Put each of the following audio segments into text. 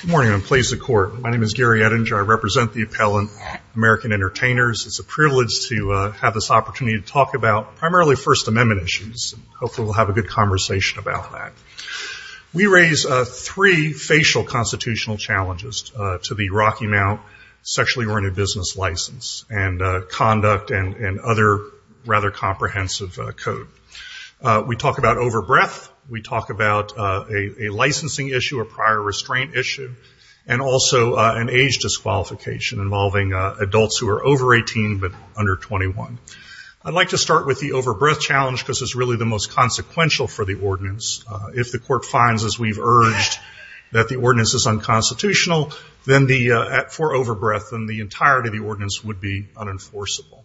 Good morning, and please accord. My name is Gary Ettinger. I represent the appellant, American Entertainers. It's a privilege to have this opportunity to talk about primarily First Amendment issues. Hopefully we'll have a good conversation about that. We raise three facial constitutional challenges to the Rocky Mount sexually oriented business license and conduct and other rather comprehensive code. We talk about overbreath. We talk about a licensing issue, a prior restraint issue, and also an age disqualification involving adults who are over 18 but under 21. I'd like to start with the overbreath challenge because it's really the most consequential for the ordinance. If the court finds, as we've urged, that the ordinance is unconstitutional for overbreath, then the entirety of the ordinance would be unenforceable.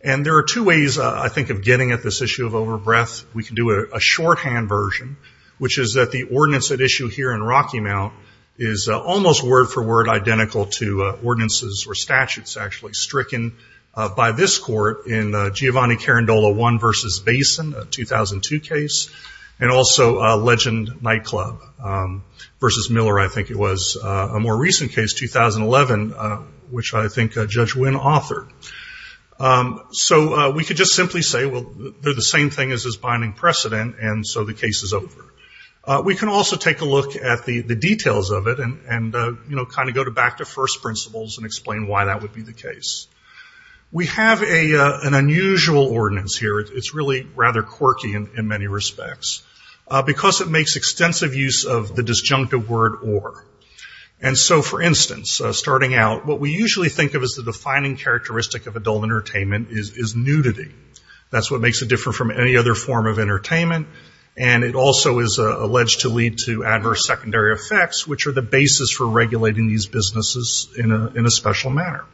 And there are two ways, I think, of getting at this issue of overbreath. We can do a shorthand version, which is that the ordinance at issue here in Rocky Mount is almost word for word identical to ordinances or statutes actually stricken by this court in Giovanni Carandola 1 v. Basin, a 2002 case, and also Legend Nightclub v. Miller, I think it was, a more recent case, 2011, which I think Judge Wynn authored. So we could just simply say, well, they're the same thing as this binding precedent, and so the case is over. We can also take a look at the details of it and kind of go back to first principles and explain why that would be the case. We have an unusual ordinance here. It's really rather quirky in many respects because it makes extensive use of the disjunctive word or. And so, for instance, starting out, what we usually think of as the defining characteristic of adult entertainment is nudity. That's what makes it different from any other form of entertainment, and it also is alleged to lead to adverse secondary effects, which are the basis for regulating these businesses in a special manner.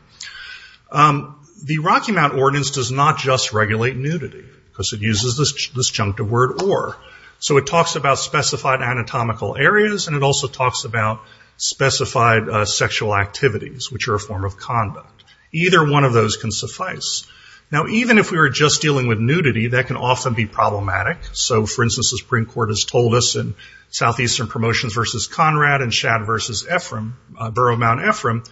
The Rocky Mount ordinance does not just regulate nudity because it uses this disjunctive word or. So it talks about specified anatomical areas, and it also talks about specified sexual activities, which are a form of conduct. Either one of those can suffice. Now, even if we were just dealing with nudity, that can often be problematic. So, for instance, the Supreme Court has told us in Southeastern Promotions v. Conrad and Shad v. Ephraim, Borough of Mount Ephraim,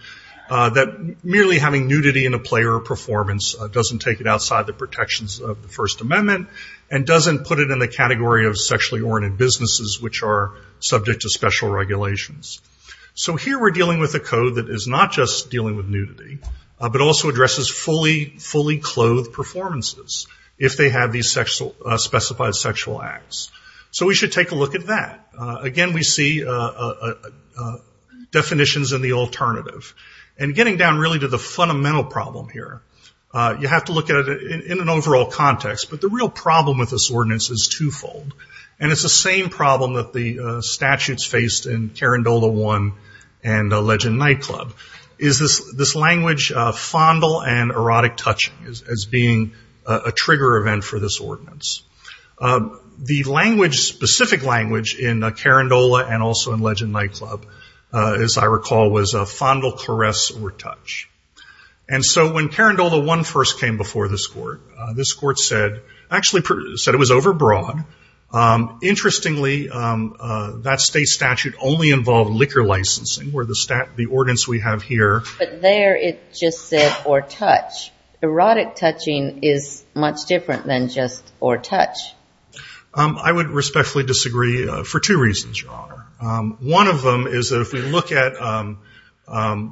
that merely having nudity in a play or performance doesn't take it outside the protections of the First Amendment and doesn't put it in the category of sexually oriented businesses, which are subject to special regulations. So here we're dealing with a code that is not just dealing with nudity, but also addresses fully clothed performances, if they have these specified sexual acts. So we should take a look at that. Again, we see definitions in the alternative. And getting down really to the fundamental problem here, you have to look at it in an overall context, but the real problem with this ordinance is twofold. And it's the same problem that the statutes faced in Carindola I and Legend Nightclub, is this language, fondle and erotic touching, as being a trigger event for this ordinance. The language, specific language, in Carindola and also in Legend Nightclub, as I recall, was fondle, caress, or touch. And so when Carindola I first came before this court, this court said, actually said it was overbroad. Interestingly, that state statute only involved liquor licensing, where the stat, the ordinance we have here. But there it just said, or touch. Erotic touching is much different than just, or touch. I would respectfully disagree for two reasons, Your Honor. One of them is that if we look at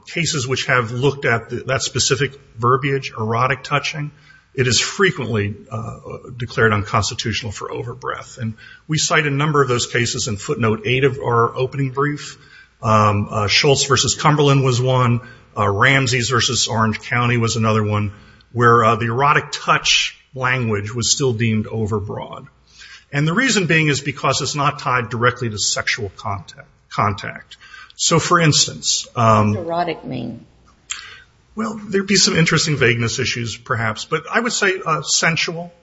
cases which have looked at that specific verbiage, erotic touching, it is frequently declared unconstitutional for overbreath. And we cite a number of those cases in footnote eight of our opening brief. Schultz v. Cumberland was one. Ramsey's v. Orange County was another one where the erotic touch language was still deemed overbroad. And the reason being is because it's not tied directly to sexual contact. So, for instance- Erotic mean? Well, there'd be some interesting vagueness issues perhaps. But I would say sensual.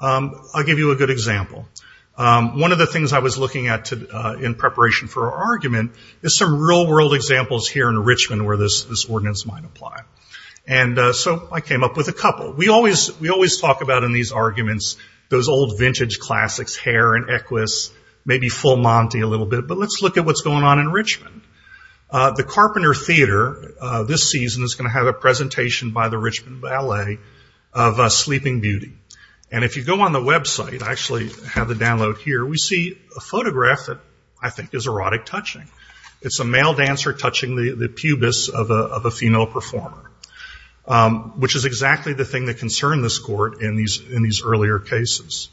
I'll give you a good example. One of the things I was looking at in preparation for our argument is some real world examples here in Richmond where this ordinance might apply. And so I think it's classics, Hare and Equus, maybe Full Monty a little bit. But let's look at what's going on in Richmond. The Carpenter Theater this season is going to have a presentation by the Richmond Ballet of Sleeping Beauty. And if you go on the website, I actually have the download here, we see a photograph that I think is erotic touching. It's a male dancer touching the pubis of a female performer, which is exactly the thing that concerned this court in these earlier cases.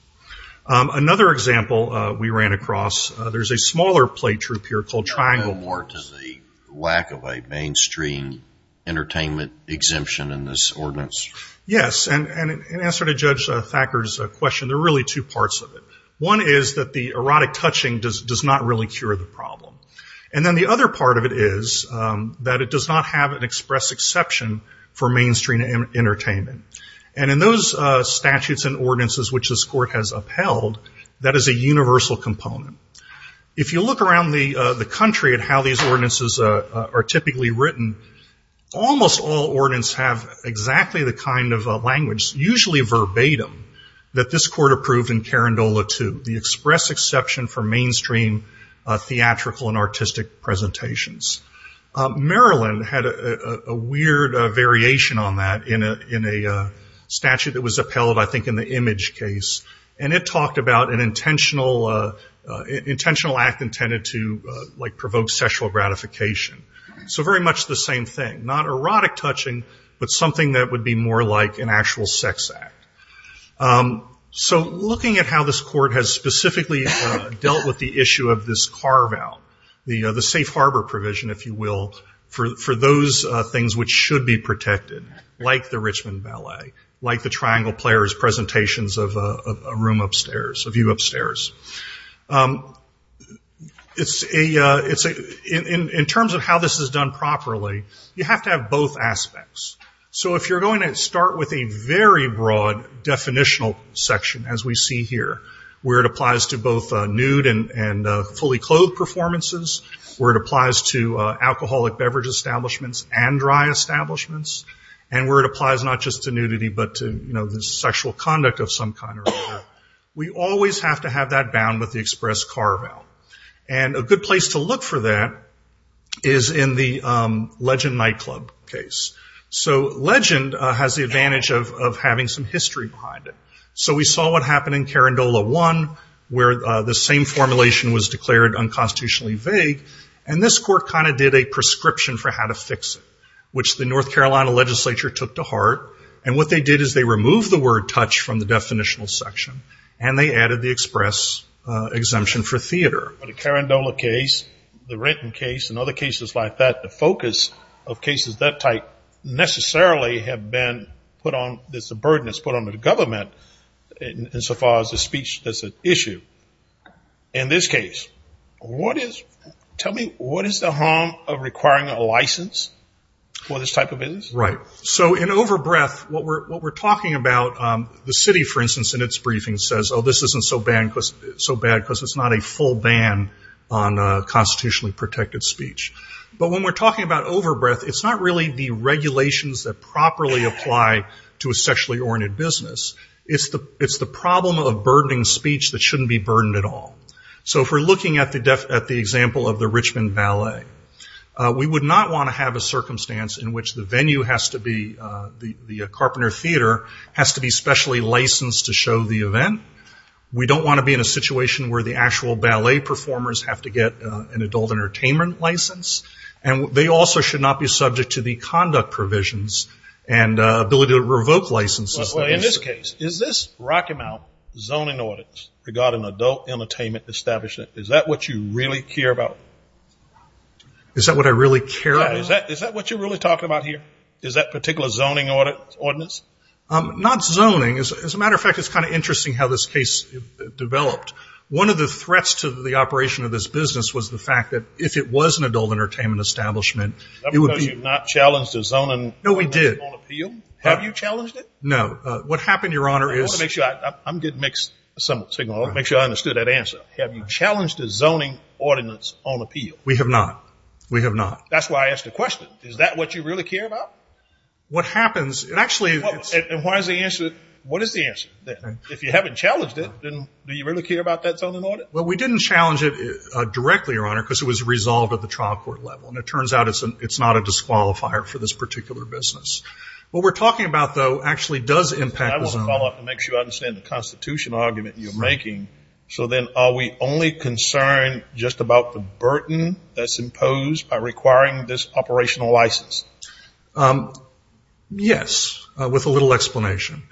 Another example we ran across, there's a smaller play troupe here called Triangle- Does it go more to the lack of a mainstream entertainment exemption in this ordinance? Yes. And in answer to Judge Thacker's question, there are really two parts of it. One is that the erotic touching does not really cure the problem. And then the other part of it is that it does not have an express exception for mainstream entertainment. And in those statutes and ordinances which this court has upheld, that is a universal component. If you look around the country at how these ordinances are typically written, almost all ordinance have exactly the kind of language, usually verbatim, that this court approved in Carandola II, the express exception for mainstream theatrical and artistic presentations. Maryland had a weird variation on that in a statute that was upheld, I think in the image case. And it talked about an intentional act intended to provoke sexual gratification. So very much the same thing. Not erotic touching, but something that would be more like an actual sex act. So looking at how this court has specifically dealt with the issue of this carve-out, the safe harbor provision, if you will, for those things which should be protected, like the Richmond Ballet, like the Triangle Players presentations of a room upstairs, a view upstairs. In terms of how this is done properly, you have to have both aspects. So if you're going to start with a very broad definitional section, as we see here, where it applies to both nude and fully clothed performances, where it applies to alcoholic beverage establishments and dry establishments, and where it applies not just to nudity, but to the sexual conduct of some kind. We always have to have that bound with the express carve-out. And a good place to look for that is in the Legend Nightclub case. So Legend has the advantage of having some history behind it. So we saw what happened in Carandola I, where the same formulation was declared unconstitutionally vague. And this court kind of did a prescription for how to fix it, which the North Carolina legislature took to heart. And what they did is they removed the word touch from the definitional section, and they added the express exemption for theater. But the Carandola case, the Renton case, and other cases like that, the focus of cases that type necessarily have been put on, there's a burden that's put on the government insofar as the speech is an issue. In this case, what is, tell me, what is the harm of requiring a license for this type of business? Right. So in over-breath, what we're talking about, the city, for instance, in its briefing says, oh, this isn't so bad because it's not a full ban on constitutionally protected speech. But when we're talking about over-breath, it's not really the regulations that properly apply to a sexually oriented business. It's the problem of burdening speech that shouldn't be burdened at all. So if we're looking at the example of the Richmond Ballet, we would not want to have a circumstance in which the venue has to be, the Carpenter Theater has to be specially licensed to show the event. We don't want to be in a situation where the actual ballet performers have to get an adult entertainment license. And they also should not be subject to the conduct provisions and ability to revoke licenses. Well, in this case, is this Rocky Mount zoning ordinance regarding adult entertainment establishment, is that what you really care about? Is that what I really care about? Is that what you're really talking about here? Is that particular zoning ordinance? Not zoning. As a matter of fact, it's kind of interesting how this case developed. One of the threats to the operation of this business was the fact that if it was an adult entertainment establishment, it would be... That's because you've not challenged the zoning ordinance on appeal? No, we did. Have you challenged it? No. What happened, Your Honor, is... I want to make sure I... I'm getting mixed signals. I want to make sure I understood that answer. Have you challenged the zoning ordinance on appeal? We have not. We have not. That's why I asked the question. Is that what you really care about? What happens, it actually... And why is the answer... What is the answer? If you haven't challenged it, then do you really care about that zoning ordinance? Well, we didn't challenge it directly, Your Honor, because it was resolved at the trial court level. And it turns out it's not a disqualifier for this particular business. What we're talking about, though, actually does impact the zoning... I want to follow up and make sure I understand the constitutional argument you're making. So then, are we only concerned just about the burden that's imposed by requiring this license? Yes, with a little explanation.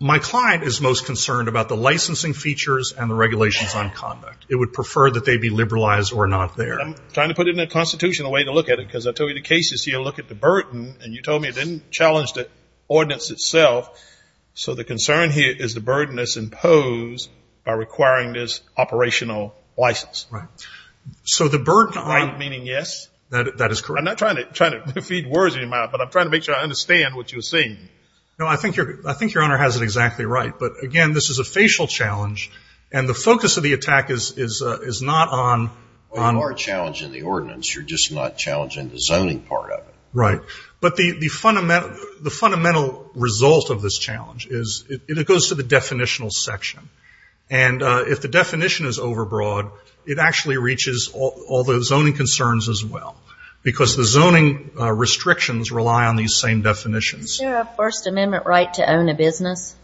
My client is most concerned about the licensing features and the regulations on conduct. It would prefer that they be liberalized or not there. I'm trying to put it in a constitutional way to look at it, because I told you the cases here look at the burden, and you told me it didn't challenge the ordinance itself. So the concern here is the burden that's imposed by requiring this operational license. Right. So the burden... Right, meaning yes? That is correct. I'm not trying to feed words in your mouth, but I'm trying to make sure I understand what you're saying. No, I think Your Honor has it exactly right. But again, this is a facial challenge, and the focus of the attack is not on... Well, you are challenging the ordinance. You're just not challenging the zoning part of it. Right. But the fundamental result of this challenge is it goes to the definitional section. And if the definition is overbroad, it actually reaches all the zoning concerns as well, because the zoning restrictions rely on these same definitions. Is there a First Amendment right to own a business?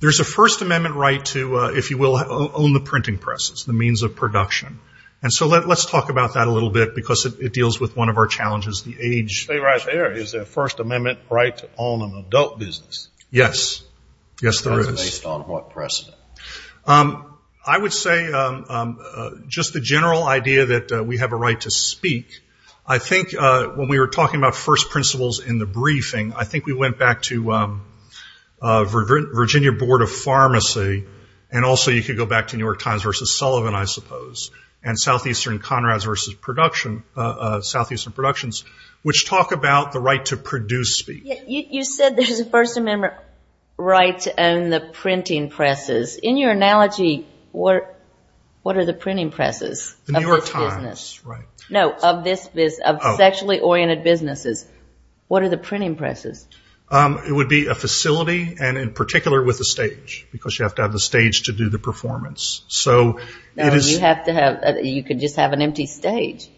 There's a First Amendment right to, if you will, own the printing press. It's the means of production. And so let's talk about that a little bit, because it deals with one of our challenges, the age... Stay right there. Is there a First Amendment right to own an adult business? Yes. Yes, there is. That's based on what precedent? I would say just the general idea that we have a right to speak. I think when we were talking about first principles in the briefing, I think we went back to Virginia Board of Pharmacy, and also you could go back to New York Times versus Sullivan, I suppose, and Southeastern Conrad's versus Southeastern Productions, which talk about the right to produce speech. You said there's a First Amendment right to own the printing presses. In your analogy, what are the printing presses of this business? The New York Times, right. No, of sexually oriented businesses. What are the printing presses? It would be a facility, and in particular, with a stage, because you have to have a stage to do the performance. No, you could just have an empty stage.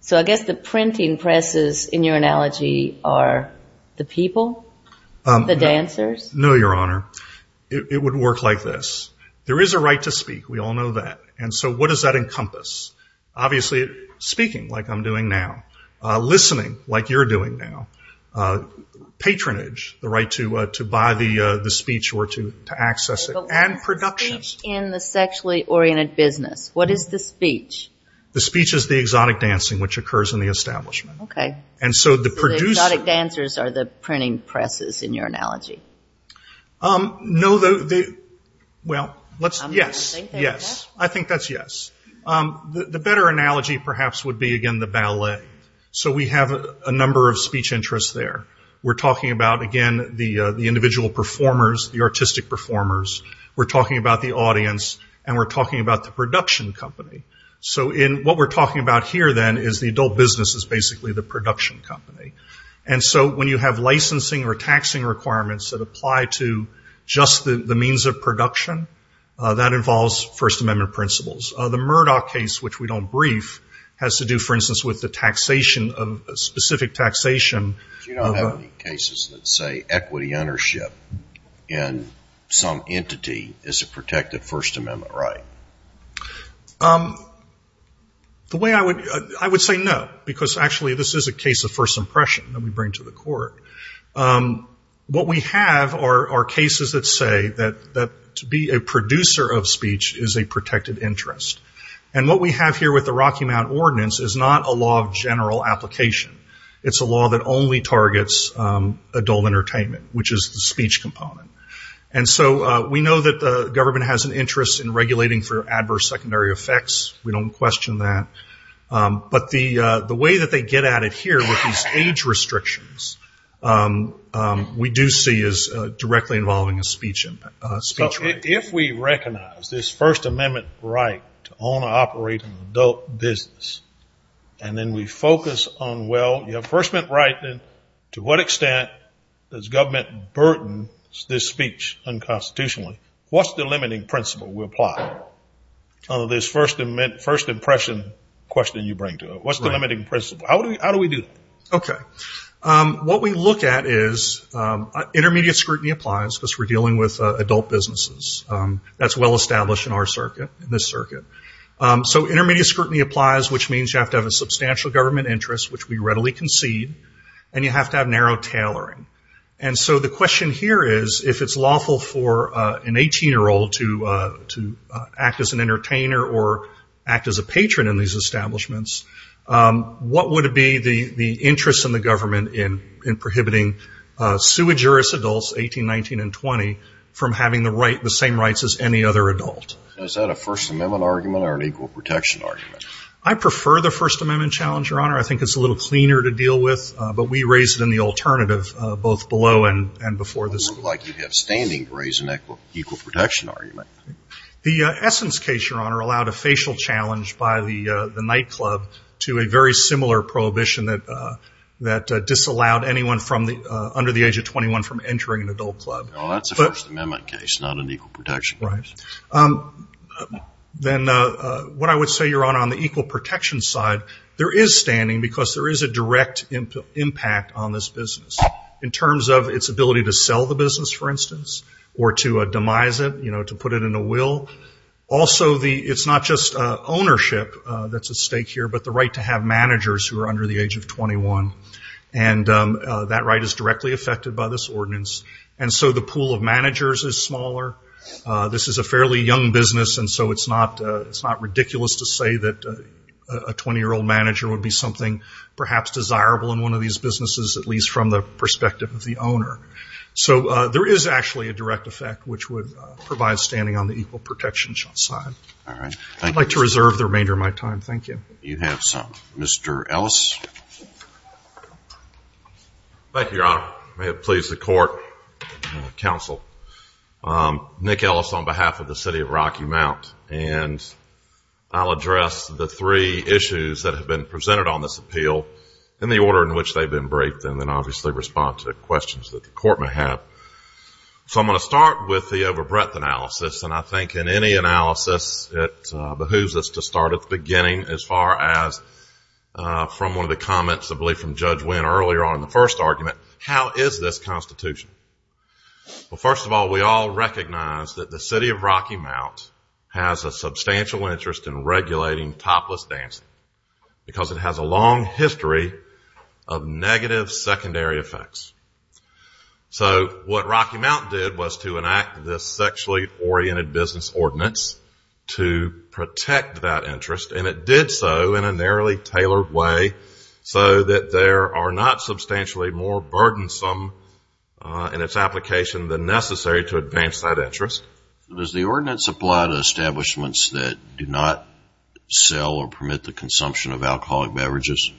So I guess the printing presses, in your analogy, are the people, the dancers? No, Your Honor. It would work like this. There is a right to speak. We all know that. And so what does that encompass? Obviously, speaking, like I'm doing now. Listening, like you're doing now. Patronage, the right to buy the speech or to access it. And production. But what is the speech in the sexually oriented business? What is the speech? The speech is the exotic dancing, which occurs in the establishment. So the exotic dancers are the printing presses, in your analogy? No. Well, yes. I think that's yes. The better analogy, perhaps, would be, again, the ballet. So we have a number of speech interests there. We're talking about, again, the individual performers, the artistic performers. We're talking about the audience, and we're talking about the production company. So what we're talking about here, then, is the adult business is basically the production company. And so when you have licensing or taxing requirements that apply to just the means of production, that involves First Amendment principles. The Murdoch case, which we don't brief, has to do, for instance, with the taxation of specific taxation. You don't have any cases that say equity ownership in some entity is a protected First Amendment, right? The way I would say no, because actually this is a case of first impression that we bring to the court. What we have are cases that say that to be a producer of speech is a protected interest. And what we have here with the Rocky Mount Ordinance is not a law of general application. It's a law that only targets adult entertainment, which is the speech component. And so we know that the government has an interest in regulating for adverse secondary effects. We don't question that. But the way that they get at it here with these age restrictions, we do see is directly involving a speech right. If we recognize this First Amendment right to own or operate an adult business, and then we focus on, well, you have First Amendment right, then to what extent does government burden this speech unconstitutionally? What's the limiting principle we apply? This First Impression question you bring to it. What's the limiting principle? How do we do it? What we look at is intermediate scrutiny applies because we're dealing with adult businesses. That's well established in our circuit, in this circuit. So intermediate scrutiny applies, which means you have to have a substantial government interest, which we readily concede, and you have to have narrow tailoring. And so the question here is, if it's lawful for an 18-year-old to act as an entertainer or act as a patron in these establishments, what would be the interest in the government in prohibiting sui juris adults, 18, 19, and 20, from having the same rights as any other adult? Is that a First Amendment argument or an equal protection argument? I prefer the First Amendment challenge, Your Honor. I think it's a little cleaner to deal with, but we raise it in the alternative both below and before this. Like you have standing to raise an equal protection argument. The Essence case, Your Honor, allowed a facial challenge by the nightclub to a very similar prohibition that disallowed anyone under the age of 21 from entering an adult club. That's a First Amendment case, not an equal protection case. Then what I would say, Your Honor, on the equal protection side, there is standing because there is a direct impact on this business in terms of its ability to sell the business, for instance, or to demise it, you know, to put it in a will. Also it's not just ownership that's at stake here, but the right to have managers who are under the age of 21. And that right is directly affected by this ordinance. And so the pool of managers is smaller. This is a fairly young business, and so it's not ridiculous to say that a 20-year-old manager would be something perhaps desirable in one of these businesses, at least from the perspective of the owner. So there is actually a direct effect which would provide standing on the equal protection side. All right. I'd like to reserve the remainder of my time. Thank you. You have some. Mr. Ellis. Thank you, Your Honor. May it please the Court and the Council. Nick Ellis on behalf of the City of Rocky Mount. And I'll address the three issues that have been presented on this appeal in the order in which they've been briefed, and then obviously respond to questions that the Court may have. So I'm going to start with the overbreadth analysis. And I think in any analysis it behooves us to start at the beginning as far as from one of the comments I believe from Judge Wynn earlier on in the first argument, how is this Constitution? Well, first of all, we all recognize that the City of Rocky Mount has a substantial interest in regulating topless dancing because it has a long history of negative secondary effects. So what Rocky Mount did was to enact this sexually oriented business ordinance to protect that interest. And it did so in a narrowly tailored way so that they are not substantially more burdensome in its application than necessary to advance that interest. Does the ordinance apply to establishments that do not sell or permit the consumption of alcoholic beverages?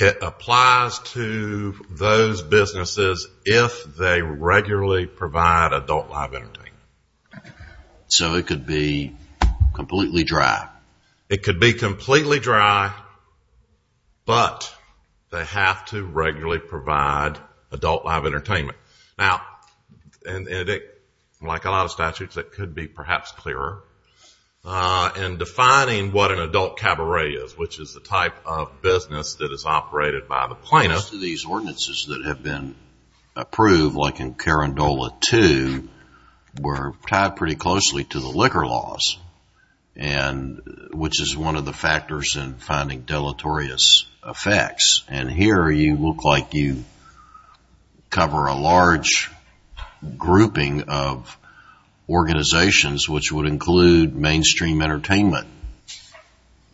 It applies to those businesses if they regularly provide adult live entertainment. So it could be completely dry? It could be completely dry, but they have to regularly provide adult live entertainment. Now, like a lot of statutes, it could be perhaps clearer. In defining what an adult cabaret is, which is the type of business that is operated by the plaintiff. Most of these ordinances that have been approved, like in Carindola 2, were tied pretty closely to the liquor laws, which is one of the factors in finding deleterious effects. And here you look like you cover a large grouping of organizations, which would include mainstream entertainment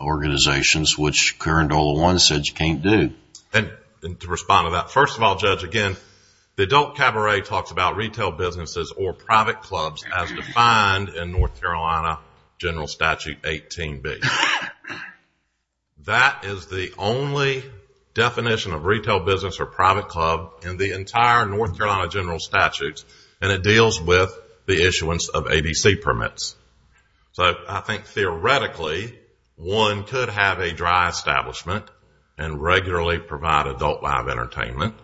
organizations, which Carindola 1 said you can't do. And to respond to that, first of all, Judge, again, the adult cabaret talks about retail businesses or private clubs as defined in North Carolina General Statute 18B. That is the only definition of retail business or private club in the entire North Carolina General Statute, and it deals with the issuance of ABC permits. So I think theoretically, one could have a dry establishment and regularly provide adult live entertainment,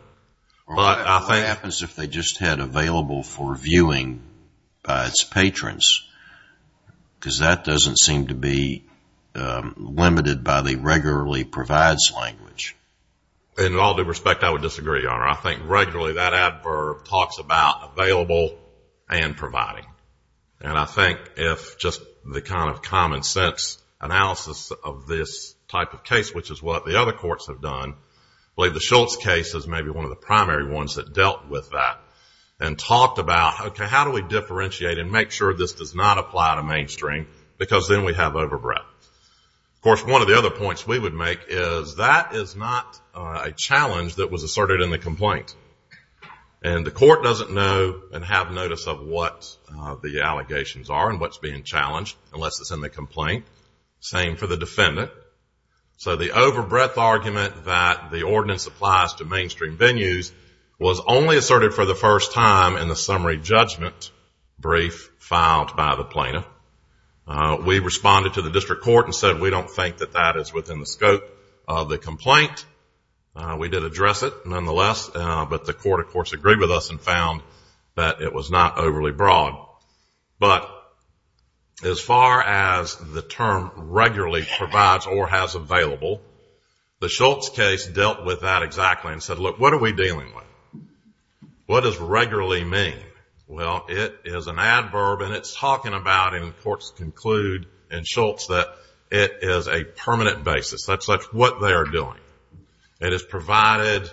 but I think... What happens if they just had available for viewing by its patrons? Because that doesn't seem to be limited by the regularly provides language. In all due respect, I would disagree, Your Honor. I think regularly that adverb talks about available and providing. And I think if just the kind of common sense analysis of this type of case, which is what the other courts have done, I believe the Schultz case is maybe one of the primary ones that dealt with that and talked about, okay, how do we differentiate and make sure this does not apply to mainstream, because then we have overbreadth. Of course, one of the other points we would make is that is not a challenge that was asserted in the complaint. And the court doesn't know and have notice of what the allegations are and what's being challenged, unless it's in the complaint. Same for the defendant. So the overbreadth argument that the ordinance applies to mainstream venues was only asserted for the first time in the summary judgment brief filed by the plaintiff. We responded to the district court and said we don't think that that is within the scope of the complaint. We did address it, nonetheless, but the court, of course, agreed with us and found that it was not overly broad. But as far as the term regularly provides or has available, the Schultz case dealt with that exactly and said, look, what are we dealing with? What does regularly mean? Well, it is an adverb and it's talking about, and the courts conclude in Schultz that it is a permanent basis. That's what they are doing. It is provided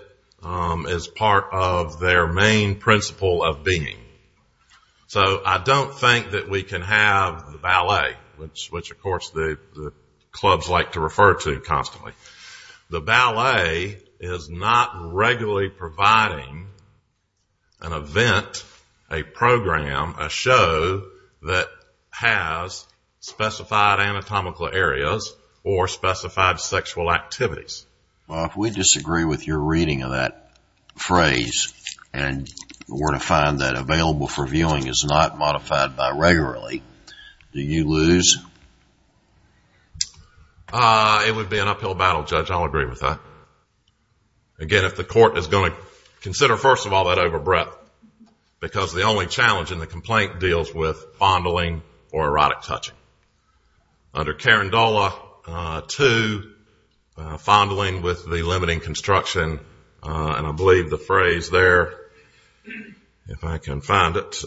as part of their main principle of being. So I don't think that we can have the ballet, which, of course, the clubs like to refer to constantly. The ballet is not regularly providing an event, a program, a show that has specified anatomical areas or specified sexual activities. Well, if we disagree with your reading of that phrase and were to find that available for viewing is not modified by regularly, do you lose? It would be an uphill battle, Judge. I'll agree with that. Again, if the court is going to consider, first of all, that overbreadth, because the only challenge in the complaint deals with fondling or erotic touching. Under Carandola 2, fondling with the limiting construction, and I believe the phrase there, if I can find it,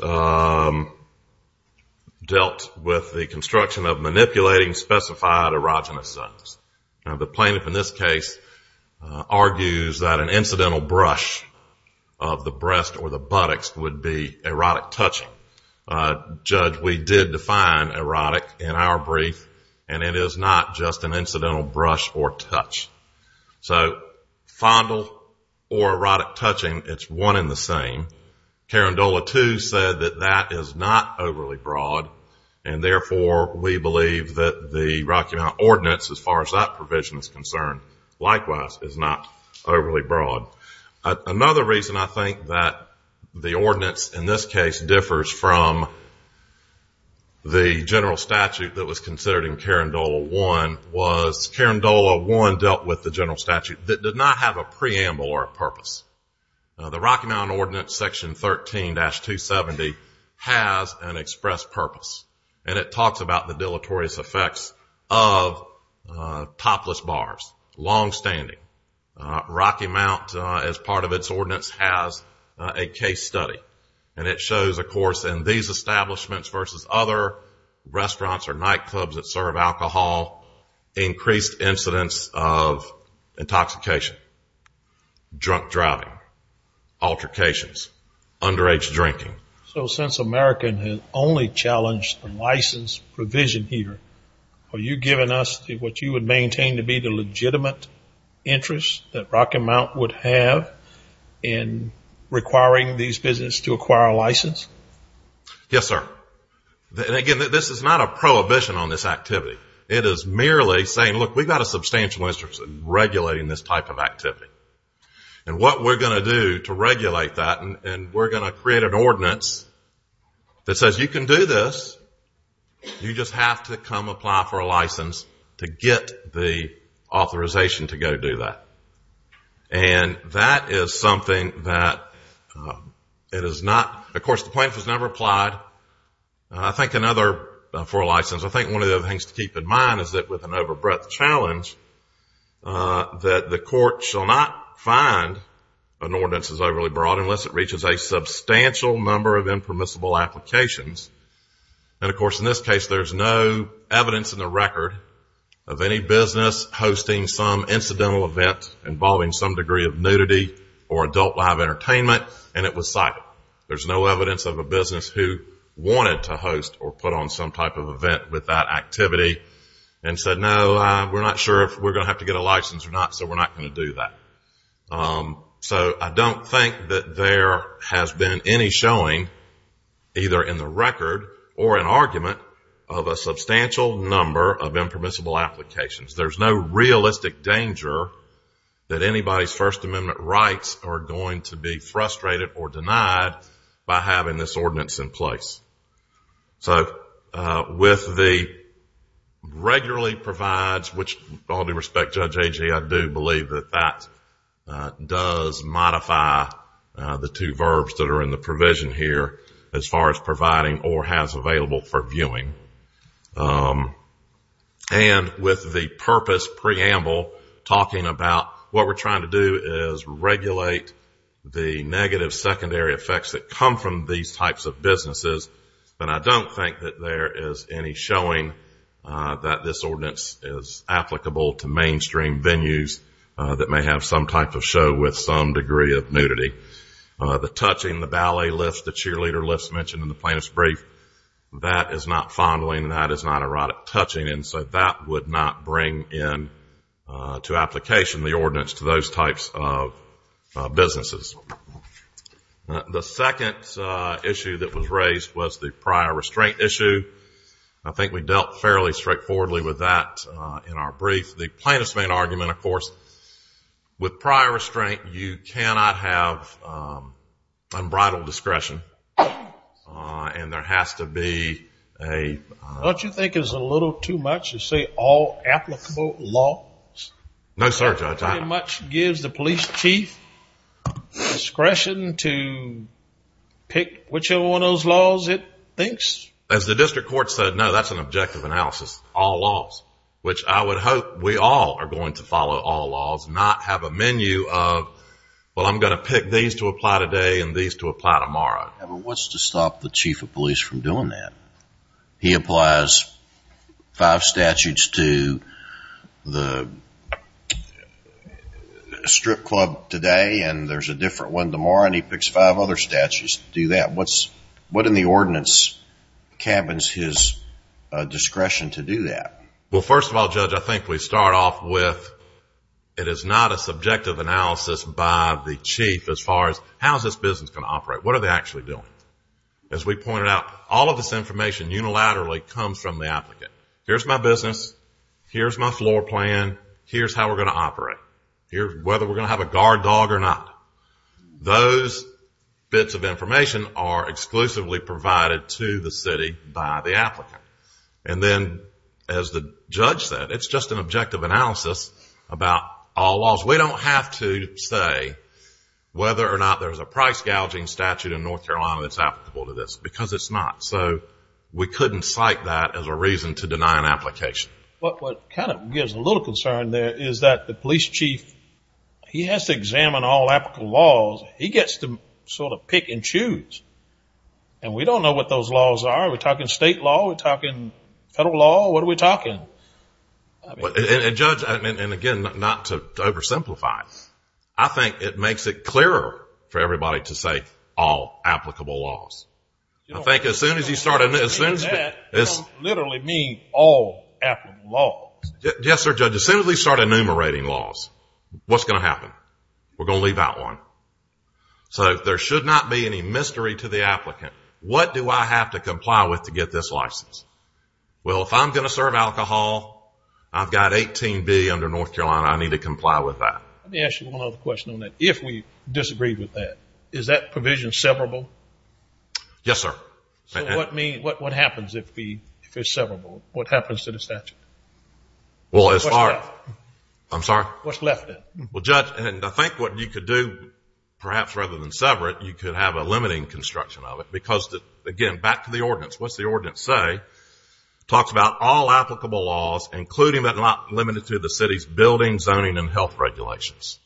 dealt with the construction of manipulating specified erogenous zones. The plaintiff in this case argues that an incidental brush of the breast or the buttocks would be erotic touching. Judge, we did define erotic in our brief, and it is not just an incidental brush or touch. So fondle or erotic touching, it's one and the same. Carandola 2 said that that is not overly broad, and therefore, we believe that the Rocky Mountain Ordinance, as far as that provision is concerned, likewise, is not overly broad. Another reason I think that the ordinance, in this case, differs from the general statute that was considered in Carandola 1 was Carandola 1 dealt with the general statute that did not have a preamble or a purpose. The Rocky Mountain Ordinance, Section 13-270, has an expressed purpose, and it talks about the deleterious effects of topless bars, longstanding. Rocky Mount, as part of its ordinance, has a case study, and it shows, of course, in these establishments versus other restaurants or nightclubs that serve alcohol, increased incidence of intoxication, drunk driving, altercations, underage drinking. So since America has only challenged the license provision here, are you giving us what you would maintain to be the legitimate interest that Rocky Mount would have in requiring these businesses to acquire a license? Yes, sir. And again, this is not a prohibition on this activity. It is merely saying, look, we've got a substantial interest in regulating this type of activity, and what we're going to do to regulate that, and we're going to create an ordinance that says you can do this, you just have to come apply for a license to get the authorization to go do that. And that is something that it is not, of course, the plaintiff has never applied, I think, another, for a license. I think one of the other things to keep in mind is that with an over-breath challenge, that the court shall not find an ordinance is overly broad unless it reaches a substantial number of impermissible applications. And, of course, in this case, there's no evidence in the record of any business hosting some incidental event involving some degree of nudity or adult live entertainment, and it was cited. There's no evidence of a business who wanted to host or put on some type of event with that activity and said, no, we're not sure if we're going to have to get a license or not, so we're not going to do that. So, I don't think that there has been any showing, either in the record or in argument, of a substantial number of impermissible applications. There's no realistic danger that anybody's First Amendment rights are going to be frustrated or denied by having this ordinance in place. So, with the regularly provides, which all due respect, Judge Agee, I do believe that that does modify the two verbs that are in the provision here as far as providing or has available for viewing. And with the purpose preamble talking about what we're trying to do is regulate the negative secondary effects that come from these types of businesses, then I don't think that there is any showing that this ordinance is applicable to mainstream venues that may have some type of show with some degree of nudity. The touching, the ballet lifts, the cheerleader lifts mentioned in the plaintiff's brief, that is not fondling, that is not erotic touching, and so that would not bring into application the ordinance to those types of businesses. The second issue that was raised was the prior restraint issue. I think we dealt fairly straightforwardly with that in our brief. The plaintiff's main argument, of course, with prior restraint, you cannot have unbridled discretion, and there has to be a... Don't you think it's a little too much to say all applicable laws? No, sir, Judge. Pretty much gives the police chief discretion to pick whichever one of those laws it thinks? As the district court said, no, that's an objective analysis, all laws, which I would hope we all are going to follow all laws, not have a menu of, well, I'm going to pick these to apply today and these to apply tomorrow. What's to stop the chief of police from doing that? He applies five statutes to the strip club today, and there's a different one tomorrow, and he picks five other statutes to do that. What in the ordinance cabins his discretion to do that? Well, first of all, Judge, I think we start off with it is not a subjective analysis by the chief as far as how is this business going to operate? What are they actually doing? As we pointed out, all of this information unilaterally comes from the applicant. Here's my business, here's my floor plan, here's how we're going to operate, whether we're going to do it or not. All kinds of information are exclusively provided to the city by the applicant. And then as the judge said, it's just an objective analysis about all laws. We don't have to say whether or not there's a price gouging statute in North Carolina that's applicable to this, because it's not. So we couldn't cite that as a reason to deny an application. What kind of gives a little concern there is that the police chief, he has to examine all applicable laws. He gets to sort of pick and choose. And we don't know what those laws are. Are we talking state law? Are we talking federal law? What are we talking? And Judge, and again, not to oversimplify, I think it makes it clearer for everybody to say all applicable laws. I think as soon as you start... I don't mean that. I don't literally mean all applicable laws. Yes, sir, Judge. As soon as we start enumerating laws, what's going to happen? We're going to leave out one. So there should not be any mystery to the applicant. What do I have to comply with to get this license? Well, if I'm going to serve alcohol, I've got 18B under North Carolina. I need to comply with that. Let me ask you one other question on that. If we disagree with that, is that provision severable? Yes, sir. So what happens if it's severable? What happens to the statute? Well, as far... What's left? I'm sorry? What's left, then? Well, Judge, and I think what you could do, perhaps rather than sever it, you could have a limiting construction of it. Because, again, back to the ordinance. What's the ordinance say? It talks about all applicable laws, including but not limited to the city's buildings, zoning, and health regulations.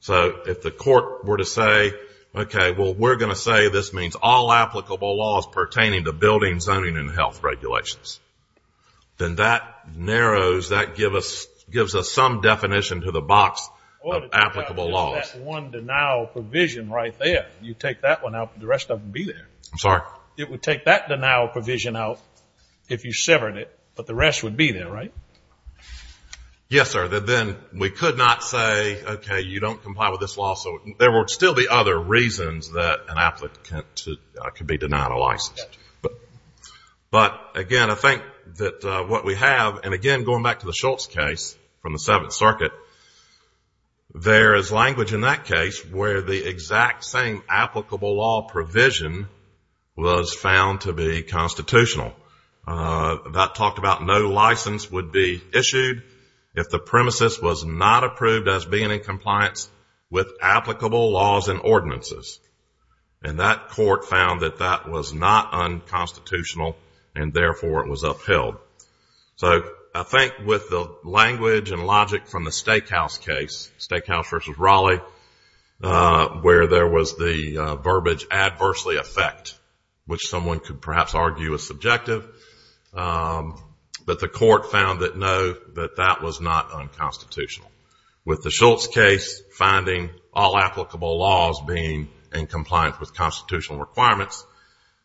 So if the court were to say, okay, well, we're going to say this means all applicable laws pertaining to buildings, zoning, and health regulations, then that narrows, that gives us some definition to the box of applicable laws. Well, if you have just that one denial provision right there, you take that one out, the rest of them would be there. I'm sorry? It would take that denial provision out if you severed it, but the rest would be there, right? Yes, sir. Then we could not say, okay, you don't comply with this law. So there would still be other reasons that an applicant could be denied a license. But, again, I think that what we have, and again, going back to the Schultz case from the Seventh Circuit, there is language in that case where the exact same applicable law provision was found to be constitutional. That talked about no license would be issued if the premises was not approved as being in compliance with applicable laws and ordinances. And that court found that that was not unconstitutional, and therefore it was upheld. So I think with the language and logic from the Stakehouse case, Stakehouse v. Raleigh, where there was the verbiage, adversely affect, which someone could perhaps argue is subjective, but the court found that no, that that was not unconstitutional. With the Schultz case finding all applicable laws being in compliance with constitutional requirements,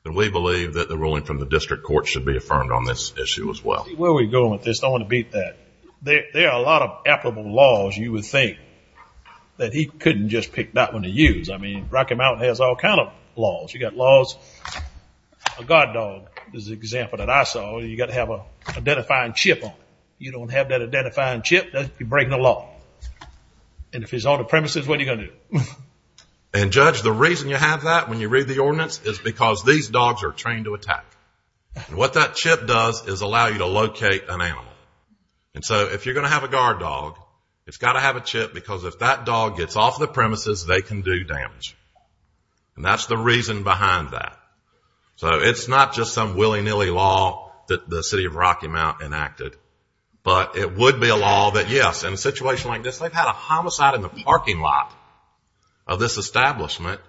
then we believe that the ruling from the district court should be affirmed on this issue as well. Where are we going with this? I want to beat that. There are a lot of applicable laws you would think that he couldn't just pick that one to use. I mean, Rocky Mountain has all that I saw. You've got to have an identifying chip on it. If you don't have that identifying chip, you're breaking the law. And if it's on the premises, what are you going to do? And Judge, the reason you have that when you read the ordinance is because these dogs are trained to attack. What that chip does is allow you to locate an animal. And so if you're going to have a guard dog, it's got to have a chip because if that dog gets off the premises, they can do damage. And that's the reason behind that. So it's not just some willy-nilly law that the city of Rocky Mountain enacted, but it would be a law that yes, in a situation like this, they've had a homicide in the parking lot of this establishment,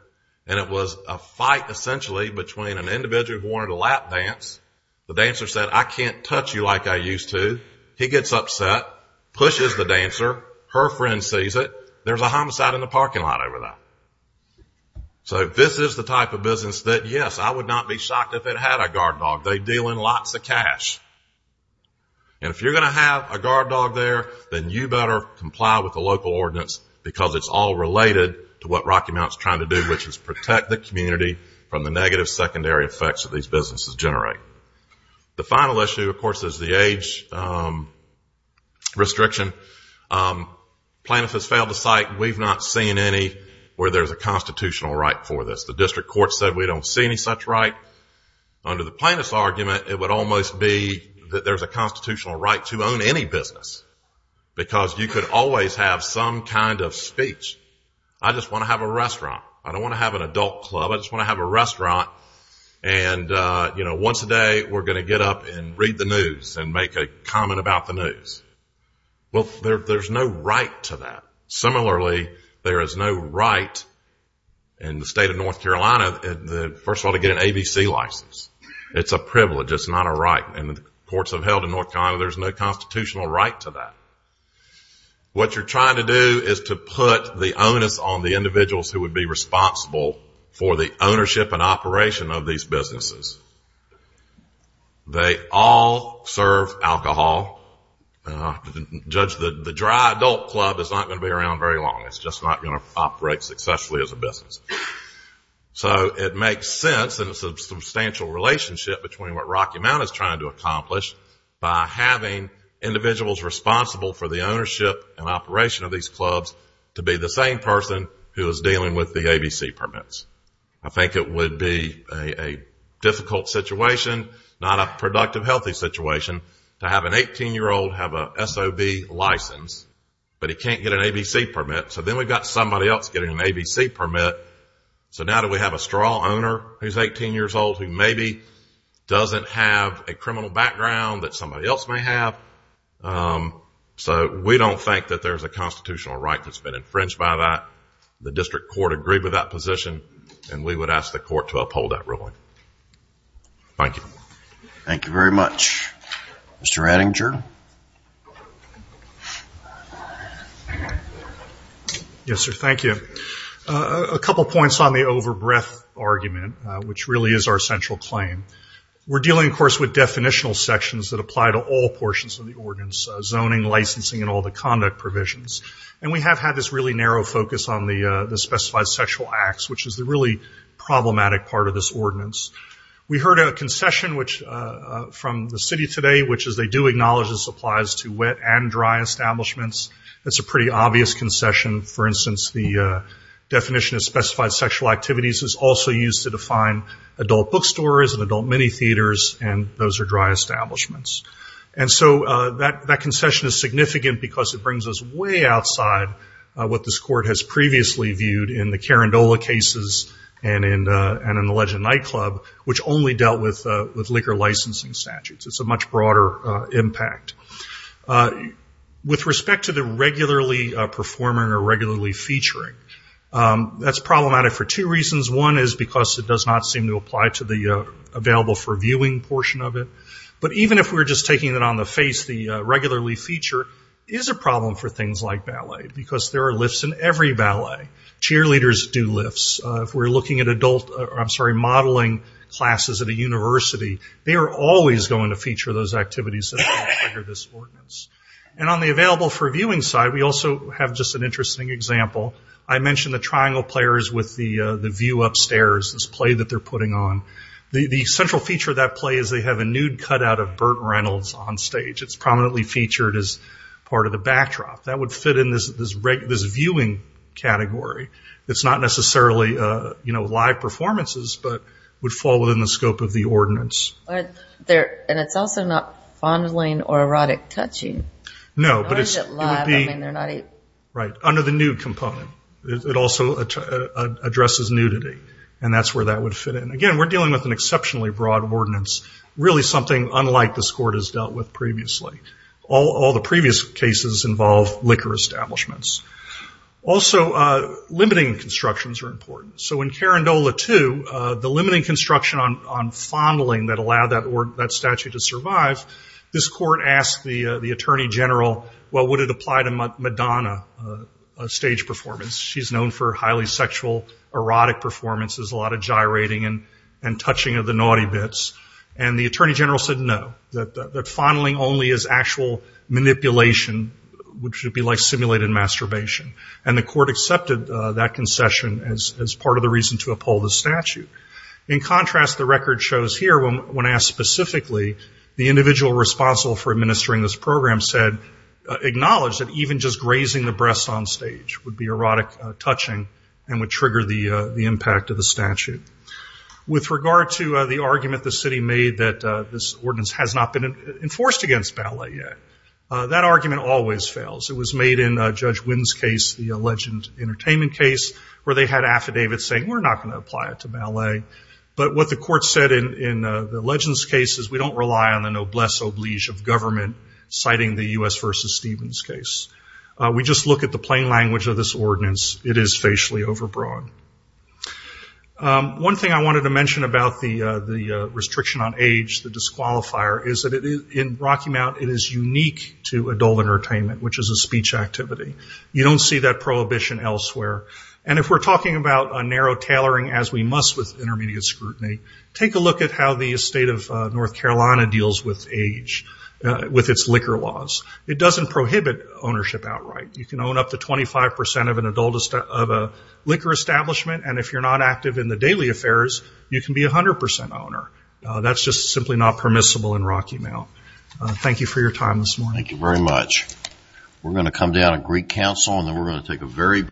and it was a fight essentially between an individual who wanted to lap dance. The dancer said, I can't touch you like I used to. He gets upset, pushes the dancer. Her friend sees it. There's a homicide in the parking lot over that. So this is the type of business that yes, I would not be shocked if it had a guard dog. They deal in lots of cash. And if you're going to have a guard dog there, then you better comply with the local ordinance because it's all related to what Rocky Mountain is trying to do, which is protect the community from the negative secondary effects that these businesses generate. The final issue, of course, is the age restriction. Plaintiffs have failed to cite. We've not seen any where there's a constitutional right for this. The district court said we don't see any such right. Under the plaintiff's argument, it would almost be that there's a constitutional right to own any business because you could always have some kind of speech. I just want to have a restaurant. I don't want to have an adult club. I just want to have a restaurant. And, you know, once a day we're going to get up and read the news and make a comment about the news. Well, there's no right to that. Similarly, there is no right in the state of North Carolina, first of all, to get an ABC license. It's a privilege. It's not a right. And the courts have held in North Carolina there's no constitutional right to that. What you're trying to do is to put the onus on the individuals who would be responsible for the ownership and operation of these businesses. They all serve alcohol. Judge, the dry adult club is not going to be around very long. It's just not going to operate successfully as a business. So it makes sense and it's a substantial relationship between what Rocky Mountain is trying to accomplish by having individuals responsible for the ownership and operation of these clubs to be the same person who is dealing with the ABC permits. I think it would be a difficult situation, not a productive, healthy situation to have an 18-year-old have an SOB license, but he can't get an ABC permit. So then we've got somebody else getting an ABC permit. So now do we have a straw owner who's 18 years old who maybe doesn't have a criminal background that somebody else may have? So we don't think that there's a constitutional right that's been infringed by that. The district court agreed with that position and we would ask the court to uphold that ruling. Thank you. Thank you very much. Mr. Attinger? Yes, sir. Thank you. A couple points on the over-breath argument, which really is our central claim. We're dealing, of course, with definitional sections that apply to all portions of the ordinance, zoning, licensing, and all the conduct provisions. And we have had this really narrow focus on the specified sexual acts, which is the really problematic part of this ordinance. We heard a concession from the city today, which is they do acknowledge this applies to wet and dry establishments. It's a pretty obvious concession. For instance, the definition of specified sexual activities is also used to define adult bookstores and adult mini theaters, and those are dry establishments. And so that concession is significant because it brings us way outside what this court has previously viewed in the Carindola cases and in the Legend Nightclub, which only dealt with liquor licensing statutes. It's a much broader impact. With respect to the regularly performing or regularly featuring, that's problematic for two reasons. One is because it does not seem to apply to the available for viewing portion of it. But even if we're just taking it on the face, the regularly feature is a problem for things like ballet because there are lifts in every ballet. Cheerleaders do lifts. If we're looking at modeling classes at a university, they are always going to feature those activities that trigger this ordinance. And on the available for viewing side, we also have just an interesting example. I mentioned the triangle players with the view upstairs, this play that they're putting on. The central feature of that play is they have a nude cutout of Burt Reynolds on stage. It's prominently featured as part of the backdrop. That would fit in this viewing category. It's not necessarily live performances, but would fall within the scope of the ordinance. And it's also not fondling or erotic touching. No, but it would be under the nude component. It also addresses nudity, and that's where that would fit in. Again, we're dealing with an exceptionally broad ordinance, really something unlike this court has dealt with previously. All the previous cases involve liquor establishments. Also, limiting constructions are important. So in Carandola II, the limiting construction on fondling that allowed that statute to survive, this court asked the attorney general, well, would it apply to Madonna, a stage performance? She's known for highly sexual, erotic performances, a lot of gyrating and touching of the naughty bits. And the attorney general said no, that would be like simulated masturbation. And the court accepted that concession as part of the reason to uphold the statute. In contrast, the record shows here when asked specifically, the individual responsible for administering this program said, acknowledged that even just grazing the breasts on stage would be erotic touching and would trigger the impact of the statute. With regard to the argument the city made that this ordinance has not been enforced against ballet yet, that argument always fails. It was made in Judge Wynn's case, the legend entertainment case, where they had affidavits saying we're not going to apply it to ballet. But what the court said in the legend's case is we don't rely on the noblesse oblige of government citing the U.S. v. Stevens case. We just look at the plain language of this ordinance. It is facially overbroad. One thing I wanted to mention about the restriction on age, the disqualifier, is that in Rocky Mount it is unique to adult entertainment, which is a speech activity. You don't see that prohibition elsewhere. And if we're talking about a narrow tailoring, as we must with intermediate scrutiny, take a look at how the state of North Carolina deals with age, with its liquor laws. It doesn't prohibit ownership outright. You can own up to 25 percent of an adult liquor establishment, and if you're not active in the daily affairs, you can be 100 percent owner. That's just simply not permissible in Rocky Mount. Thank you for your time this morning.